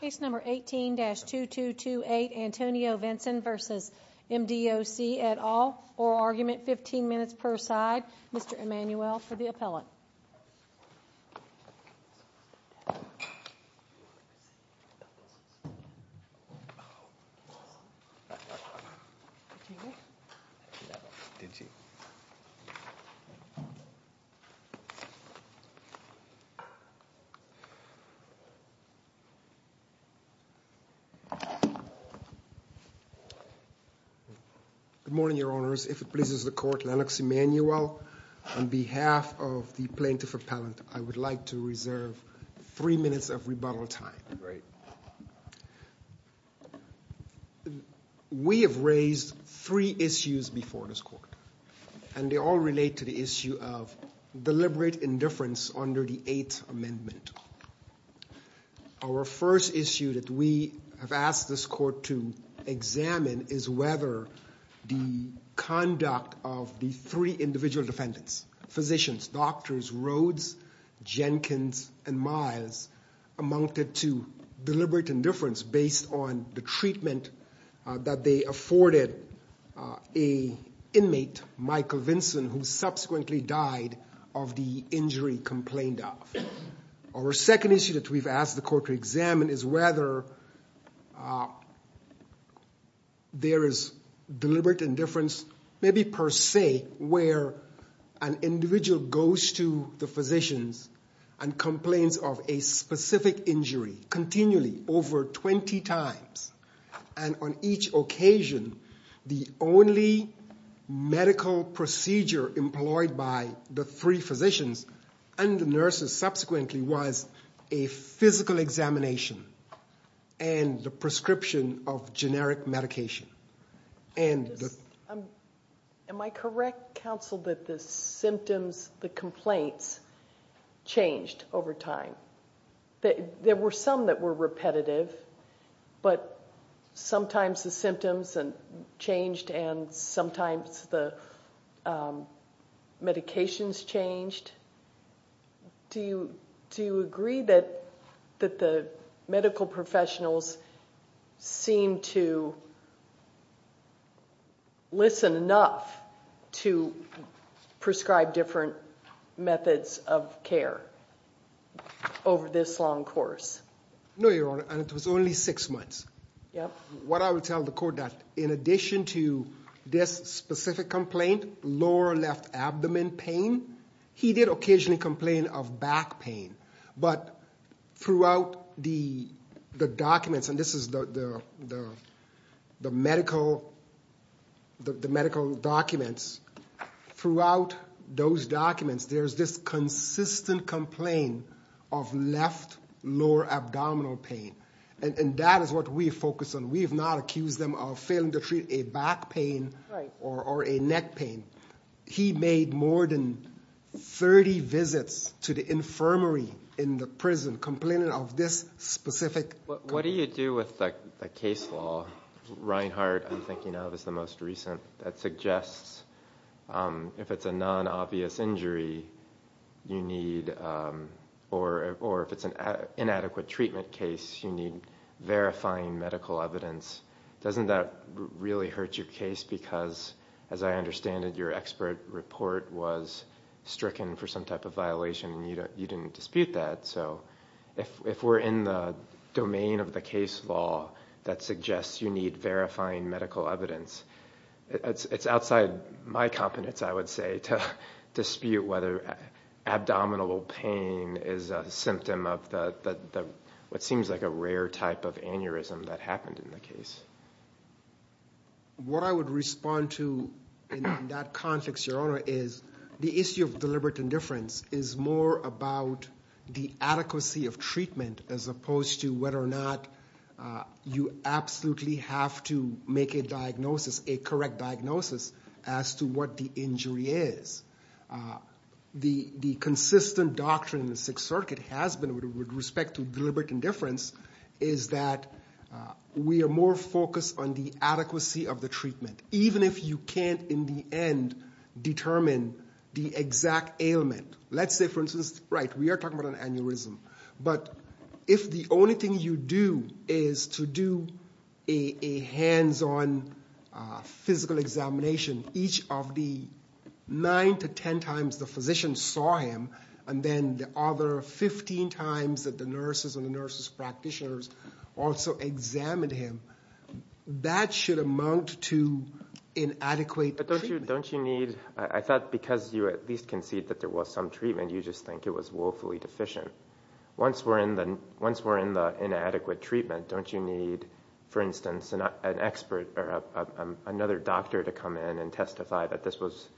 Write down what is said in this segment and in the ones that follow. Case number 18-2228 Antonio Vinson v. MDOC et al. Oral argument 15 minutes per side. Mr. Emanuel for the appellant. Good morning, your honors. If it pleases the court, Lennox Emanuel, on behalf of the plaintiff appellant, I would like to reserve three minutes of rebuttal time. We have raised three issues before this court, and they all relate to the issue of deliberate indifference under the Eighth Amendment. Our first issue that we have asked this court to examine is whether the conduct of the three individual defendants, physicians, doctors, Rhodes, Jenkins, and Miles, amounted to deliberate indifference based on the treatment that they afforded an inmate, Michael Vinson, who subsequently died of the injury complained of. Our second issue that we have asked the court to examine is whether there is deliberate indifference, maybe per se, where an individual goes to the physicians and complains of a specific injury continually over 20 times. And on each occasion, the only medical procedure employed by the three physicians and the nurses subsequently was a physical examination and the prescription of generic medication. Am I correct, counsel, that the symptoms, the complaints, changed over time? There were some that were repetitive, but sometimes the symptoms changed and sometimes the medications changed. Do you agree that the medical professionals seem to listen enough to prescribe different methods of care over this long course? No, Your Honor, and it was only six months. What I would tell the court that in addition to this specific complaint, lower left abdomen pain, he did occasionally complain of back pain. But throughout the documents, and this is the medical documents, throughout those documents, there is this consistent complaint of left lower abdominal pain, and that is what we focus on. We have not accused them of failing to treat a back pain or a neck pain. He made more than 30 visits to the infirmary in the prison complaining of this specific... Doesn't that really hurt your case because, as I understand it, your expert report was stricken for some type of violation and you didn't dispute that. So if we're in the domain of the case law that suggests you need verifying medical evidence, it's outside my competence, I would say, to dispute whether abdominal pain is a symptom of what seems like a rare type of aneurysm that happened in the case. What I would respond to in that context, Your Honor, is the issue of deliberate indifference is more about the adequacy of treatment as opposed to whether or not you absolutely have to make a diagnosis, a correct diagnosis, as to what the injury is. The consistent doctrine in the Sixth Circuit has been with respect to deliberate indifference is that we are more focused on the adequacy of the treatment, even if you can't, in the end, determine the exact ailment. Let's say, for instance, right, we are talking about an aneurysm. But if the only thing you do is to do a hands-on physical examination, each of the 9 to 10 times the physician saw him, and then the other 15 times that the nurses and the nurse's practitioners also examined him, that should amount to inadequate treatment. I thought because you at least concede that there was some treatment, you just think it was woefully deficient. Once we're in the inadequate treatment, don't you need, for instance, another doctor to come in and testify that this was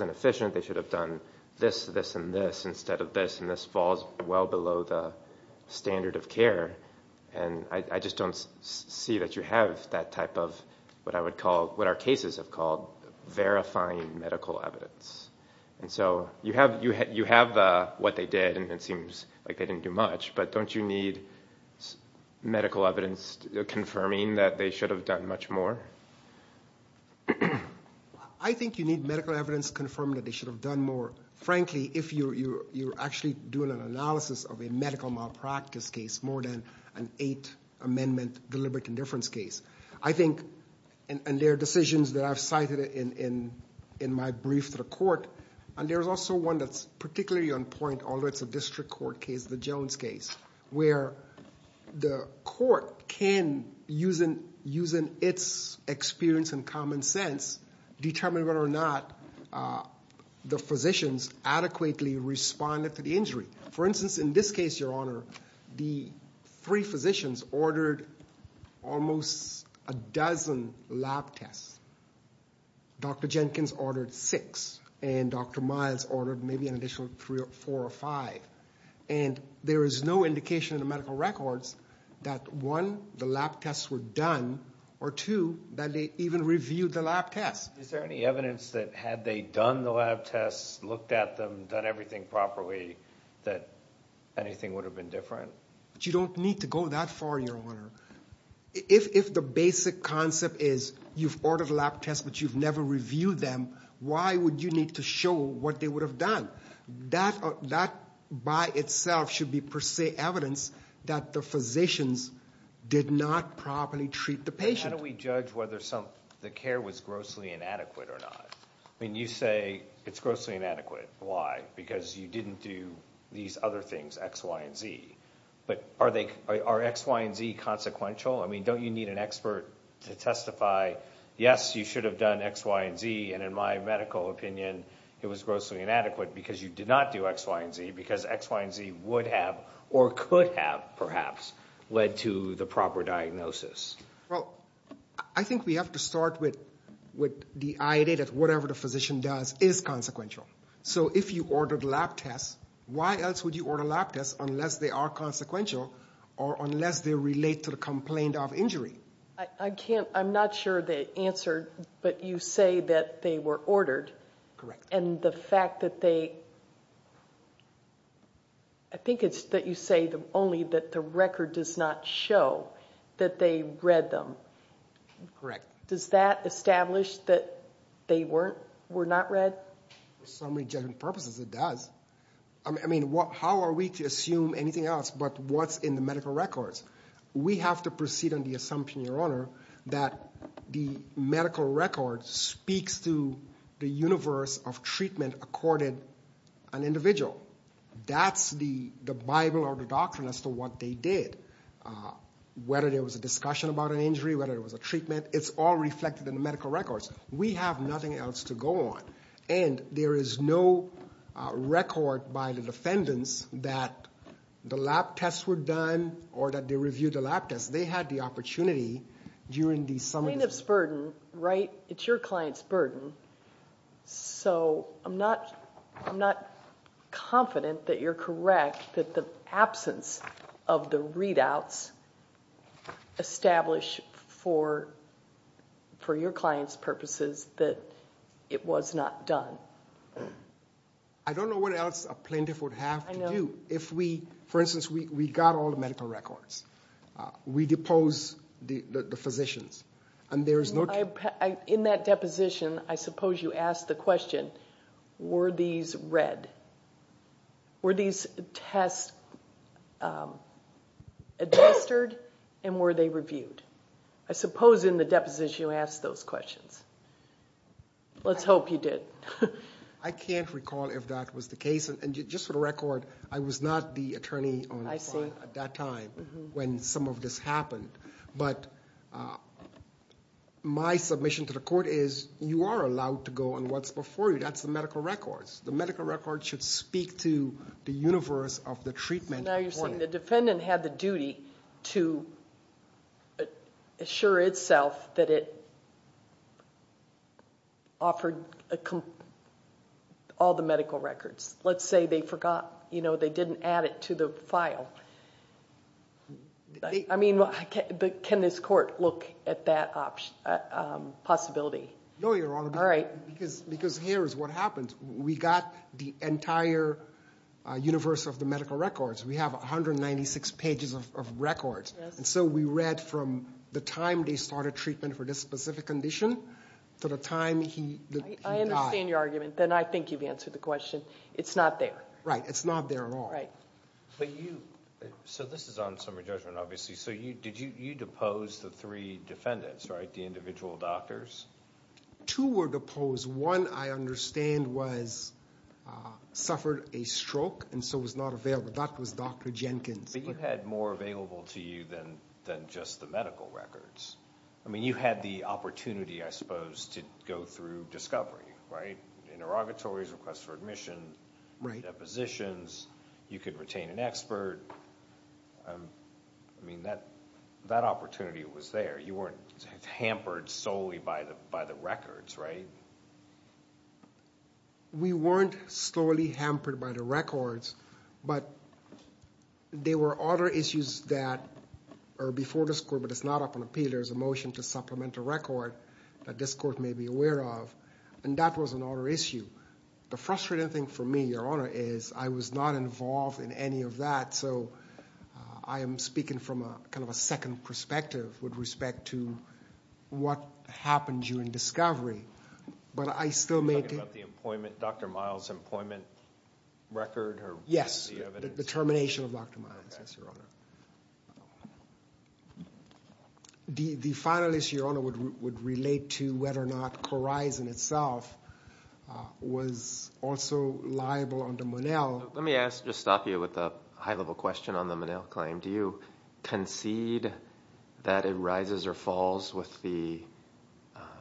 inefficient, they should have done this, this, and this, instead of this, and this falls well below the standard of care. And I just don't see that you have that type of what I would call, what our cases have called, verifying medical evidence. And so you have what they did, and it seems like they didn't do much, but don't you need medical evidence confirming that they should have done much more? I think you need medical evidence confirming that they should have done more, frankly, if you're actually doing an analysis of a medical malpractice case more than an Eight Amendment deliberate indifference case. I think, and there are decisions that I've cited in my brief to the court, and there's also one that's particularly on point, although it's a district court case, the Jones case, where the court can, using its experience and common sense, determine whether or not the physicians adequately responded to the injury. For instance, in this case, Your Honor, the three physicians ordered almost a dozen lab tests. Dr. Jenkins ordered six, and Dr. Miles ordered maybe an additional three or four or five. And there is no indication in the medical records that one, the lab tests were done, or two, that they even reviewed the lab tests. Is there any evidence that had they done the lab tests, looked at them, done everything properly, that anything would have been different? You don't need to go that far, Your Honor. If the basic concept is you've ordered lab tests, but you've never reviewed them, why would you need to show what they would have done? That by itself should be per se evidence that the physicians did not properly treat the patient. How do we judge whether the care was grossly inadequate or not? I mean, you say it's grossly inadequate. Why? Because you didn't do these other things, X, Y, and Z. But are X, Y, and Z consequential? I mean, don't you need an expert to testify, yes, you should have done X, Y, and Z, and in my medical opinion, it was grossly inadequate because you did not do X, Y, and Z, because X, Y, and Z would have or could have, perhaps, led to the proper diagnosis. Well, I think we have to start with the idea that whatever the physician does is consequential. So if you ordered lab tests, why else would you order lab tests unless they are consequential or unless they relate to the complaint of injury? I can't, I'm not sure the answer, but you say that they were ordered. Correct. And the fact that they, I think it's that you say only that the record does not show that they read them. Correct. Does that establish that they were not read? For so many different purposes, it does. I mean, how are we to assume anything else but what's in the medical records? We have to proceed on the assumption, Your Honor, that the medical record speaks to the universe of treatment accorded an individual. That's the Bible or the doctrine as to what they did. Whether there was a discussion about an injury, whether it was a treatment, it's all reflected in the medical records. We have nothing else to go on. And there is no record by the defendants that the lab tests were done or that they reviewed the lab tests. They had the opportunity during the summons. Plaintiff's burden, right? It's your client's burden. So I'm not confident that you're correct that the absence of the readouts establish for your client's purposes that it was not done. I don't know what else a plaintiff would have to do. For instance, we got all the medical records. We deposed the physicians. And there is no... I can't recall if that was the case. And just for the record, I was not the attorney at that time when some of this happened. But my submission to the court is you are allowed to go on what's before you. That's the medical records. The medical records should speak to the universe of the treatment. Now you're saying the defendant had the duty to assure itself that it offered all the medical records. Let's say they forgot, they didn't add it to the file. I mean, can this court look at that possibility? No, Your Honor. Because here is what happened. We got the entire universe of the medical records. We have 196 pages of records. And so we read from the time they started treatment for this specific condition to the time he died. I understand your argument. Then I think you've answered the question. It's not there. Right. It's not there at all. So this is on summary judgment, obviously. So you deposed the three defendants, right? The individual doctors? Two were deposed. One, I understand, suffered a stroke and so was not available. That was Dr. Jenkins. But you had more available to you than just the medical records. I mean, you had the opportunity, I suppose, to go through discovery, right? Interrogatories, requests for admission, depositions. You could retain an expert. I mean, that opportunity was there. You weren't hampered solely by the records, right? We weren't solely hampered by the records, but there were other issues that are before this court, but it's not up on appeal. There's a motion to supplement the record that this court may be aware of, and that was another issue. The frustrating thing for me, Your Honor, is I was not involved in any of that, so I am speaking from kind of a second perspective with respect to what happened during discovery. You're talking about the employment, Dr. Miles' employment record? Yes, the termination of Dr. Miles, yes, Your Honor. The final issue, Your Honor, would relate to whether or not Corizon itself was also liable under Monell. Let me just stop you with a high-level question on the Monell claim. Do you concede that it rises or falls with the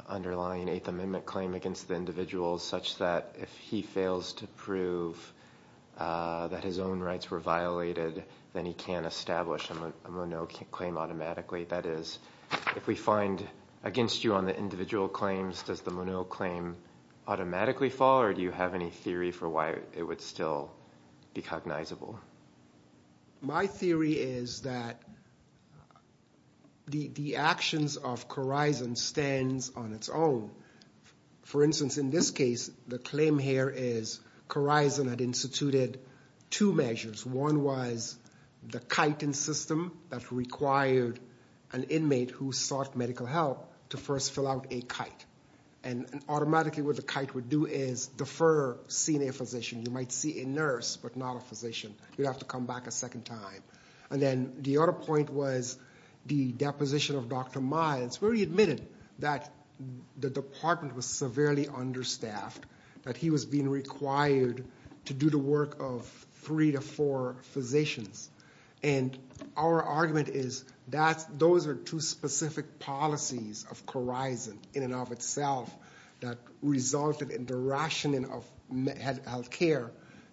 underlying Eighth Amendment claim against the individual such that if he fails to prove that his own rights were violated, then he can't establish a Monell claim automatically? That is, if we find against you on the individual claims, does the Monell claim automatically fall, or do you have any theory for why it would still be cognizable? My theory is that the actions of Corizon stands on its own. For instance, in this case, the claim here is Corizon had instituted two measures. One was the chitin system that required an inmate who sought medical help to first fill out a chitin, and automatically what the chitin would do is defer seeing a physician. You might see a nurse, but not a physician. You'd have to come back a second time. The other point was the deposition of Dr. Miles, where he admitted that the department was severely understaffed, that he was being required to do the work of three to four physicians. And our argument is that those are two specific policies of Corizon in and of itself that resulted in the rationing of health care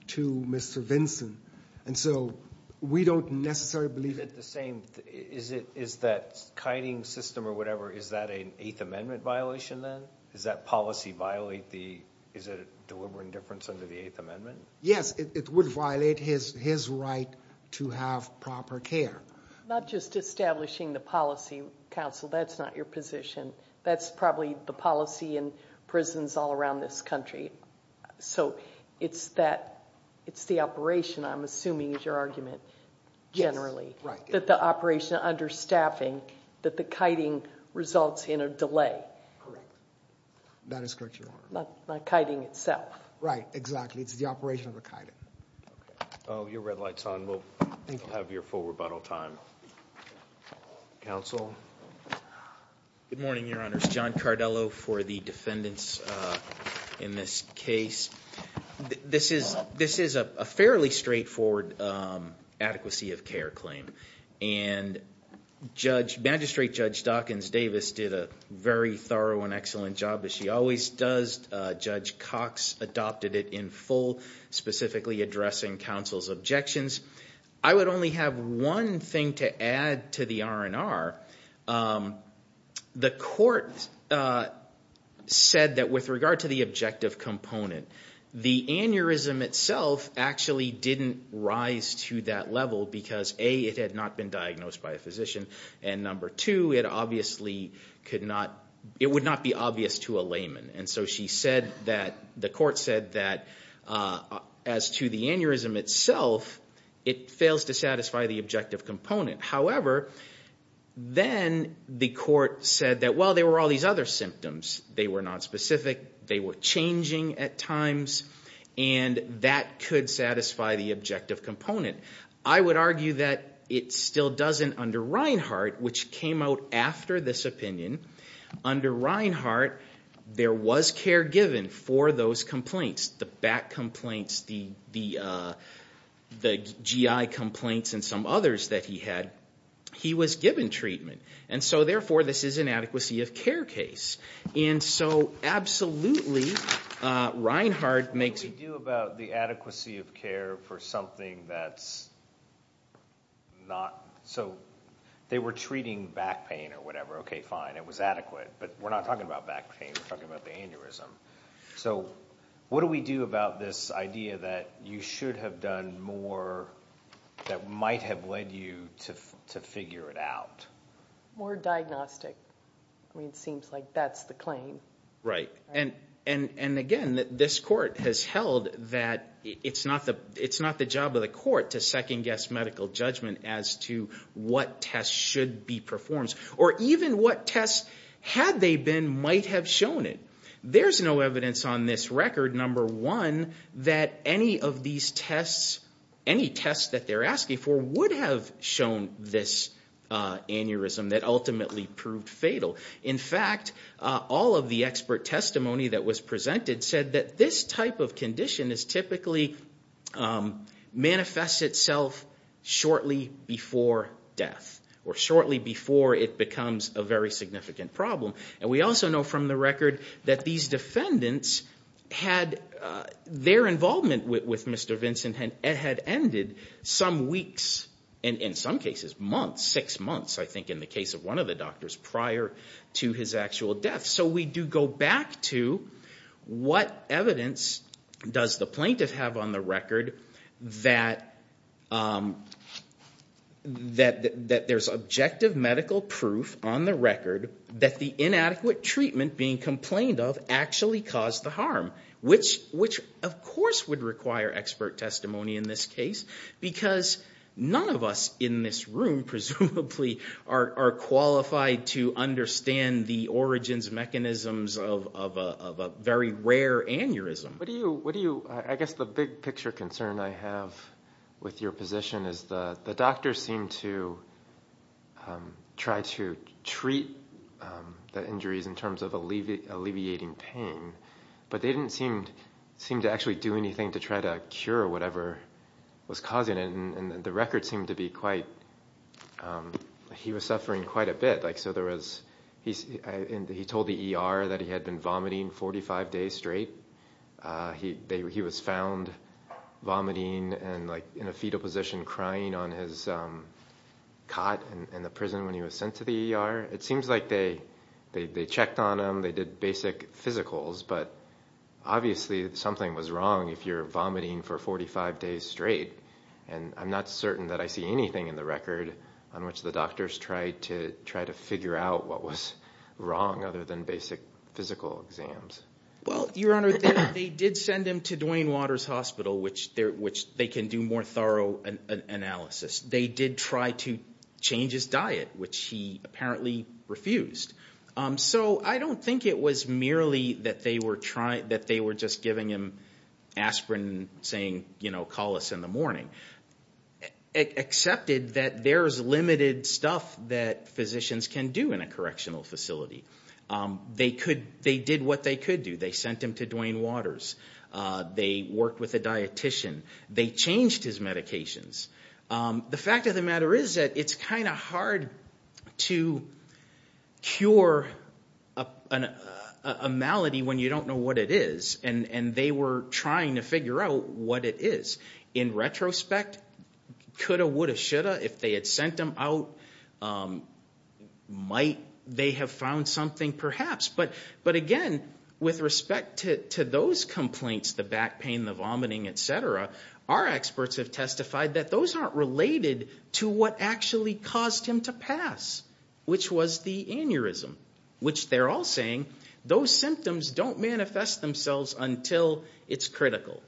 to Mr. Vinson. And so we don't necessarily believe it. Is that chitin system or whatever, is that an Eighth Amendment violation then? Does that policy violate the, is it a deliberate indifference under the Eighth Amendment? Yes, it would violate his right to have proper care. Not just establishing the policy, counsel, that's not your position. That's probably the policy in prisons all around this country. So it's that, it's the operation I'm assuming is your argument, generally. Yes, right. That the operation understaffing, that the kiting results in a delay. Correct. That is correct, Your Honor. Not kiting itself. Right, exactly. It's the operation of the kiting. Your red light's on. We'll have your full rebuttal time. Counsel. Good morning, Your Honors. John Cardello for the defendants in this case. This is a fairly straightforward adequacy of care claim. And Judge, Magistrate Judge Dawkins Davis did a very thorough and excellent job, as she always does. Judge Cox adopted it in full, specifically addressing counsel's objections. I would only have one thing to add to the R&R. The court said that with regard to the objective component, the aneurysm itself actually didn't rise to that level. Because A, it had not been diagnosed by a physician. And number two, it obviously could not, it would not be obvious to a layman. And so she said that, the court said that as to the aneurysm itself, it fails to satisfy the objective component. However, then the court said that, well, there were all these other symptoms. They were not specific. They were changing at times. And that could satisfy the objective component. I would argue that it still doesn't under Reinhardt, which came out after this opinion. Under Reinhardt, there was care given for those complaints. The back complaints, the GI complaints, and some others that he had. He was given treatment. And so therefore, this is an adequacy of care case. And so absolutely, Reinhardt makes a view about the adequacy of care for something that's not. So they were treating back pain or whatever. Okay, fine, it was adequate. But we're not talking about back pain. We're talking about the aneurysm. So what do we do about this idea that you should have done more that might have led you to figure it out? More diagnostic. I mean, it seems like that's the claim. Right. And again, this court has held that it's not the job of the court to second-guess medical judgment as to what tests should be performed. Or even what tests, had they been, might have shown it. There's no evidence on this record, number one, that any of these tests, any tests that they're asking for, would have shown this aneurysm that ultimately proved fatal. In fact, all of the expert testimony that was presented said that this type of condition typically manifests itself shortly before death. Or shortly before it becomes a very significant problem. And we also know from the record that these defendants had, their involvement with Mr. Vincent had ended some weeks, and in some cases months, six months, I think, in the case of one of the doctors prior to his actual death. So we do go back to what evidence does the plaintiff have on the record that there's objective medical proof on the record that the inadequate treatment being complained of actually caused the harm. Which, of course, would require expert testimony in this case. Because none of us in this room, presumably, are qualified to understand the origins, mechanisms of a very rare aneurysm. I guess the big picture concern I have with your position is the doctor seemed to try to treat the injuries in terms of alleviating pain. But they didn't seem to actually do anything to try to cure whatever was causing it. And the record seemed to be quite, he was suffering quite a bit. He told the ER that he had been vomiting 45 days straight. He was found vomiting and in a fetal position crying on his cot in the prison when he was sent to the ER. It seems like they checked on him, they did basic physicals. But obviously something was wrong if you're vomiting for 45 days straight. And I'm not certain that I see anything in the record on which the doctors tried to figure out what was wrong other than basic physical exams. Well, Your Honor, they did send him to Duane Waters Hospital, which they can do more thorough analysis. They did try to change his diet, which he apparently refused. So I don't think it was merely that they were just giving him aspirin saying, you know, call us in the morning. Excepted that there's limited stuff that physicians can do in a correctional facility. They did what they could do. They sent him to Duane Waters. They worked with a dietician. They changed his medications. The fact of the matter is that it's kind of hard to cure a malady when you don't know what it is. And they were trying to figure out what it is. In retrospect, coulda, woulda, shoulda, if they had sent him out, might they have found something perhaps. But again, with respect to those complaints, the back pain, the vomiting, et cetera, our experts have testified that those aren't related to what actually caused him to pass, which was the aneurysm. Which they're all saying those symptoms don't manifest themselves until it's critical,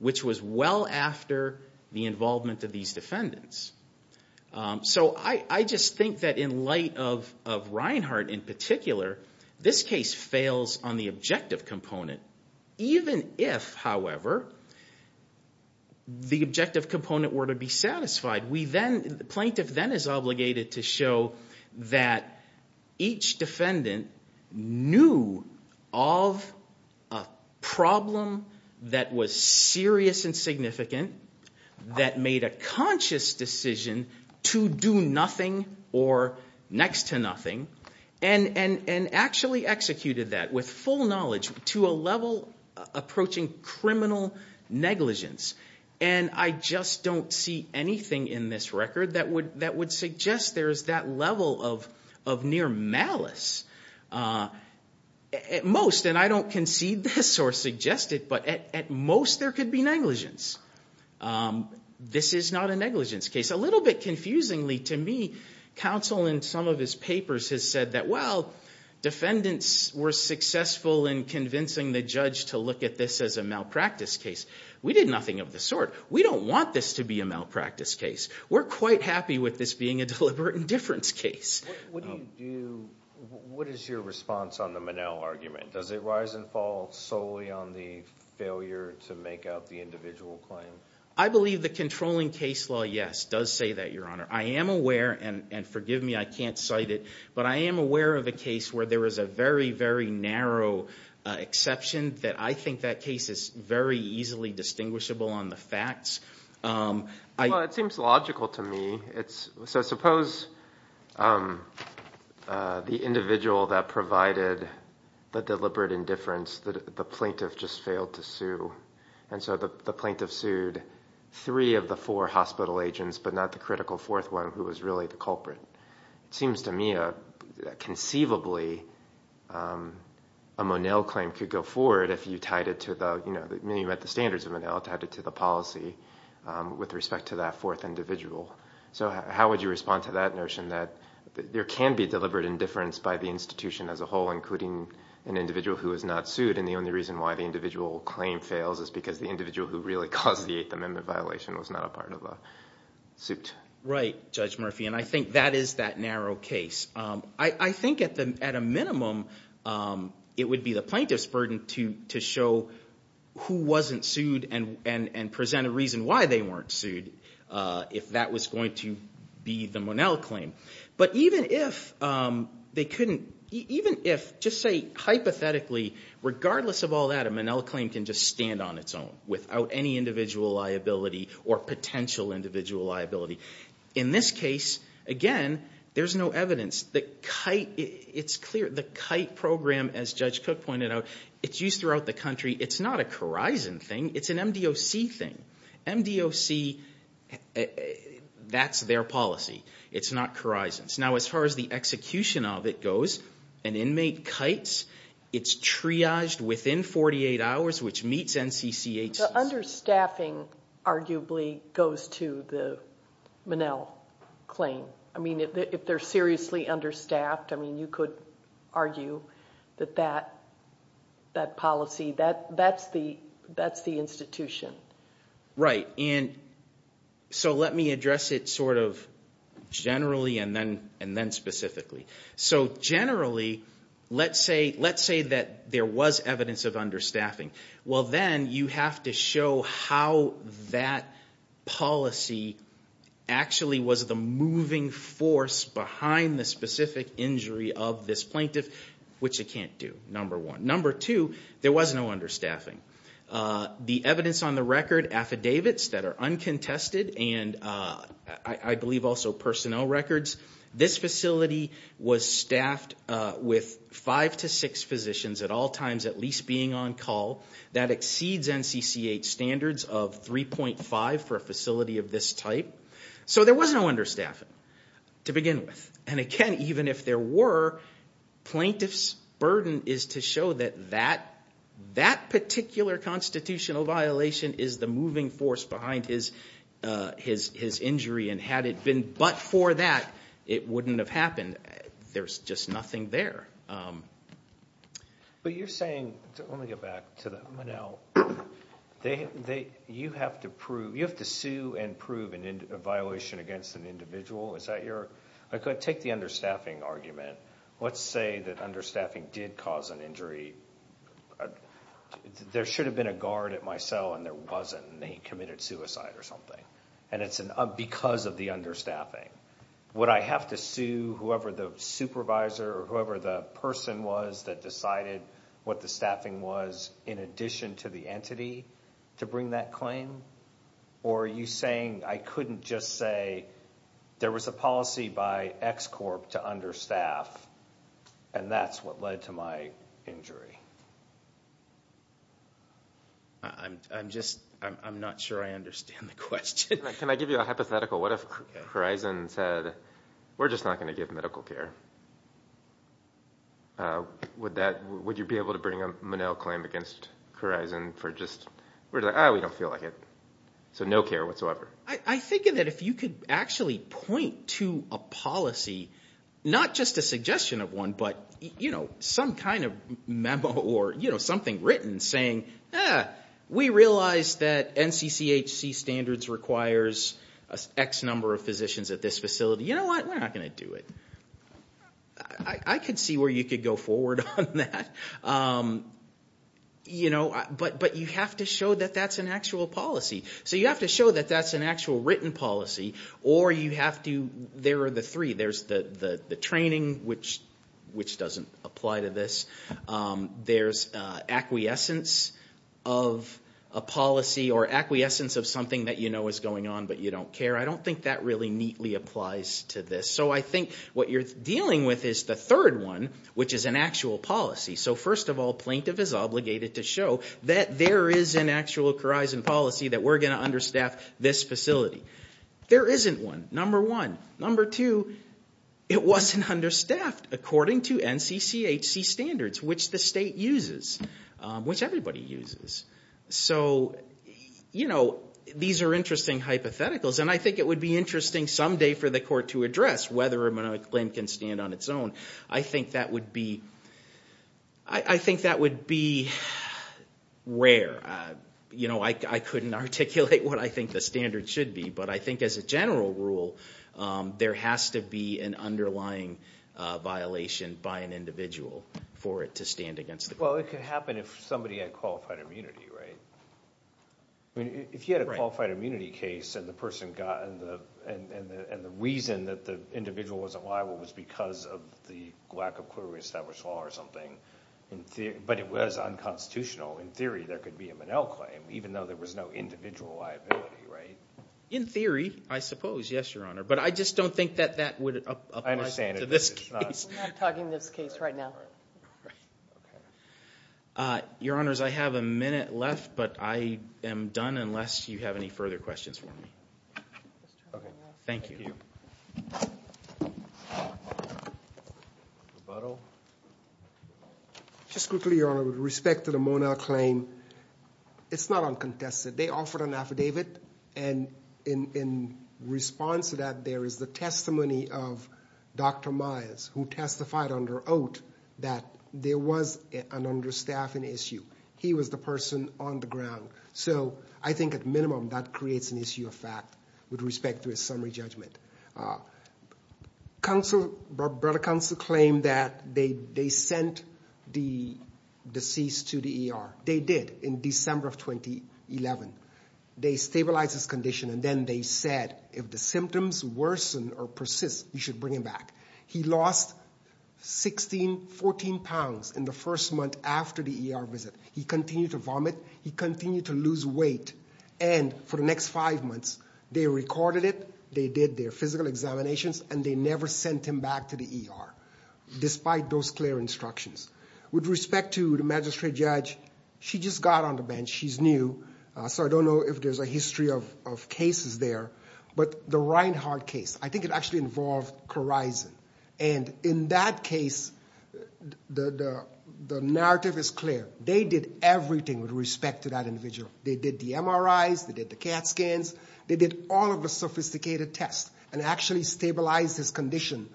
which was well after the involvement of these defendants. So I just think that in light of Reinhart in particular, this case fails on the objective component. Even if, however, the objective component were to be satisfied, the plaintiff then is obligated to show that each defendant knew of a problem that was serious and significant. That made a conscious decision to do nothing or next to nothing. And actually executed that with full knowledge to a level approaching criminal negligence. And I just don't see anything in this record that would suggest there's that level of near malice. At most, and I don't concede this or suggest it, but at most there could be negligence. This is not a negligence case. A little bit confusingly to me, counsel in some of his papers has said that, well, defendants were successful in convincing the judge to look at this as a malpractice case. We did nothing of the sort. We don't want this to be a malpractice case. We're quite happy with this being a deliberate indifference case. What do you do, what is your response on the Minnell argument? Does it rise and fall solely on the failure to make out the individual claim? I believe the controlling case law, yes, does say that, Your Honor. I am aware, and forgive me, I can't cite it, but I am aware of a case where there was a very, very narrow exception that I think that case is very easily distinguishable on the facts. Well, it seems logical to me. So suppose the individual that provided the deliberate indifference, the plaintiff just failed to sue, and so the plaintiff sued three of the four hospital agents but not the critical fourth one who was really the culprit. It seems to me that conceivably a Minnell claim could go forward if you tied it to the standards of Minnell, tied it to the policy with respect to that fourth individual. So how would you respond to that notion that there can be deliberate indifference by the institution as a whole, including an individual who is not sued, and the only reason why the individual claim fails is because the individual who really caused the Eighth Amendment violation was not a part of the suit? Right, Judge Murphy, and I think that is that narrow case. I think at a minimum it would be the plaintiff's burden to show who wasn't sued and present a reason why they weren't sued if that was going to be the Minnell claim. But even if, just say hypothetically, regardless of all that, a Minnell claim can just stand on its own without any individual liability or potential individual liability. In this case, again, there's no evidence. The KITE program, as Judge Cook pointed out, it's used throughout the country. It's not a Corizon thing. It's an MDOC thing. MDOC, that's their policy. It's not Corizon's. Now, as far as the execution of it goes, an inmate KITES, it's triaged within 48 hours, which meets NCCHC. So understaffing arguably goes to the Minnell claim. I mean, if they're seriously understaffed, I mean, you could argue that that policy, that's the institution. Right, and so let me address it sort of generally and then specifically. So generally, let's say that there was evidence of understaffing. Well, then you have to show how that policy actually was the moving force behind the specific injury of this plaintiff, which it can't do, number one. Number two, there was no understaffing. The evidence on the record, affidavits that are uncontested, and I believe also personnel records, this facility was staffed with five to six physicians at all times at least being on call. That exceeds NCCH standards of 3.5 for a facility of this type. So there was no understaffing to begin with. And again, even if there were, plaintiff's burden is to show that that particular constitutional violation is the moving force behind his injury, and had it been but for that, it wouldn't have happened. There's just nothing there. But you're saying, let me get back to the Minnell. You have to sue and prove a violation against an individual. Take the understaffing argument. Let's say that understaffing did cause an injury. There should have been a guard at my cell, and there wasn't, and he committed suicide or something, and it's because of the understaffing. Would I have to sue whoever the supervisor or whoever the person was that decided what the staffing was in addition to the entity to bring that claim? Or are you saying I couldn't just say there was a policy by X Corp to understaff, and that's what led to my injury? I'm just not sure I understand the question. Can I give you a hypothetical? What if Corizon said, we're just not going to give medical care? Would you be able to bring a Minnell claim against Corizon for just, we don't feel like it, so no care whatsoever? I think that if you could actually point to a policy, not just a suggestion of one, but some kind of memo or something written saying, we realize that NCCHC standards requires X number of physicians at this facility. You know what? We're not going to do it. I could see where you could go forward on that, but you have to show that that's an actual policy. So you have to show that that's an actual written policy, or you have to, there are the three. There's the training, which doesn't apply to this. There's acquiescence of a policy or acquiescence of something that you know is going on, but you don't care. I don't think that really neatly applies to this. So I think what you're dealing with is the third one, which is an actual policy. So first of all, plaintiff is obligated to show that there is an actual Corizon policy that we're going to understaff this facility. There isn't one, number one. Number two, it wasn't understaffed according to NCCHC standards, which the state uses, which everybody uses. So, you know, these are interesting hypotheticals, and I think it would be interesting someday for the court to address whether or not a claim can stand on its own. I think that would be rare. You know, I couldn't articulate what I think the standard should be, but I think as a general rule, there has to be an underlying violation by an individual for it to stand against the court. Well, it could happen if somebody had qualified immunity, right? If you had a qualified immunity case and the person got, and the reason that the individual wasn't liable was because of the lack of clearly established law or something, but it was unconstitutional, in theory there could be a Monell claim, even though there was no individual liability, right? In theory, I suppose, yes, Your Honor, but I just don't think that that would apply to this case. We're not talking this case right now. Your Honors, I have a minute left, but I am done unless you have any further questions for me. Okay. Thank you. Thank you. Rebuttal? Just quickly, Your Honor, with respect to the Monell claim, it's not uncontested. They offered an affidavit, and in response to that, there is the testimony of Dr. Myers, who testified under oath that there was an understaffing issue. He was the person on the ground. So I think, at minimum, that creates an issue of fact with respect to his summary judgment. Brother counsel claimed that they sent the deceased to the ER. They did in December of 2011. They stabilized his condition, and then they said, if the symptoms worsen or persist, you should bring him back. He lost 16, 14 pounds in the first month after the ER visit. He continued to vomit. He continued to lose weight. And for the next five months, they recorded it, they did their physical examinations, and they never sent him back to the ER despite those clear instructions. With respect to the magistrate judge, she just got on the bench. She's new. So I don't know if there's a history of cases there. But the Reinhardt case, I think it actually involved Clarison. And in that case, the narrative is clear. They did everything with respect to that individual. They did the MRIs. They did the CAT scans. They did all of the sophisticated tests and actually stabilized his condition.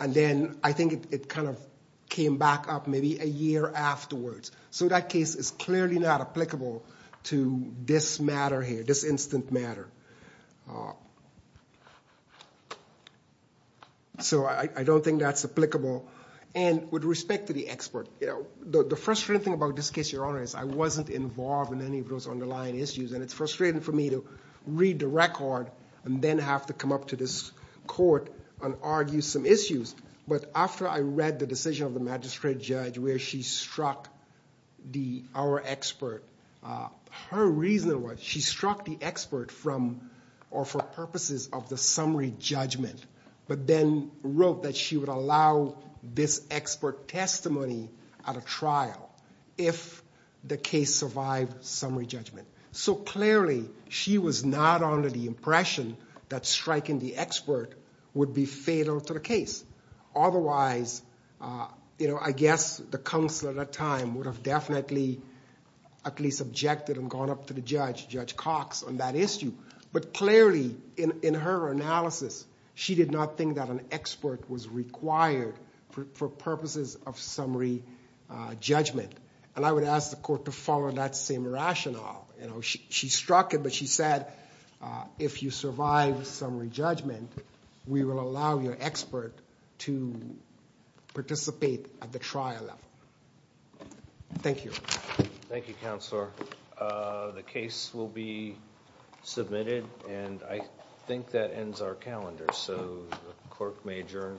And then I think it kind of came back up maybe a year afterwards. So that case is clearly not applicable to this matter here, this instant matter. So I don't think that's applicable. And with respect to the expert, the frustrating thing about this case, Your Honor, is I wasn't involved in any of those underlying issues. And it's frustrating for me to read the record and then have to come up to this court and argue some issues. But after I read the decision of the magistrate judge where she struck our expert, her reason was she struck the expert for purposes of the summary judgment but then wrote that she would allow this expert testimony at a trial if the case survived summary judgment. So clearly she was not under the impression that striking the expert would be fatal to the case. Otherwise, I guess the counselor at that time would have definitely at least objected and gone up to the judge, Judge Cox, on that issue. But clearly, in her analysis, she did not think that an expert was required for purposes of summary judgment. And I would ask the court to follow that same rationale. She struck it, but she said if you survive summary judgment, we will allow your expert to participate at the trial level. Thank you. Thank you, Counselor. The case will be submitted, and I think that ends our calendar. So the clerk may adjourn.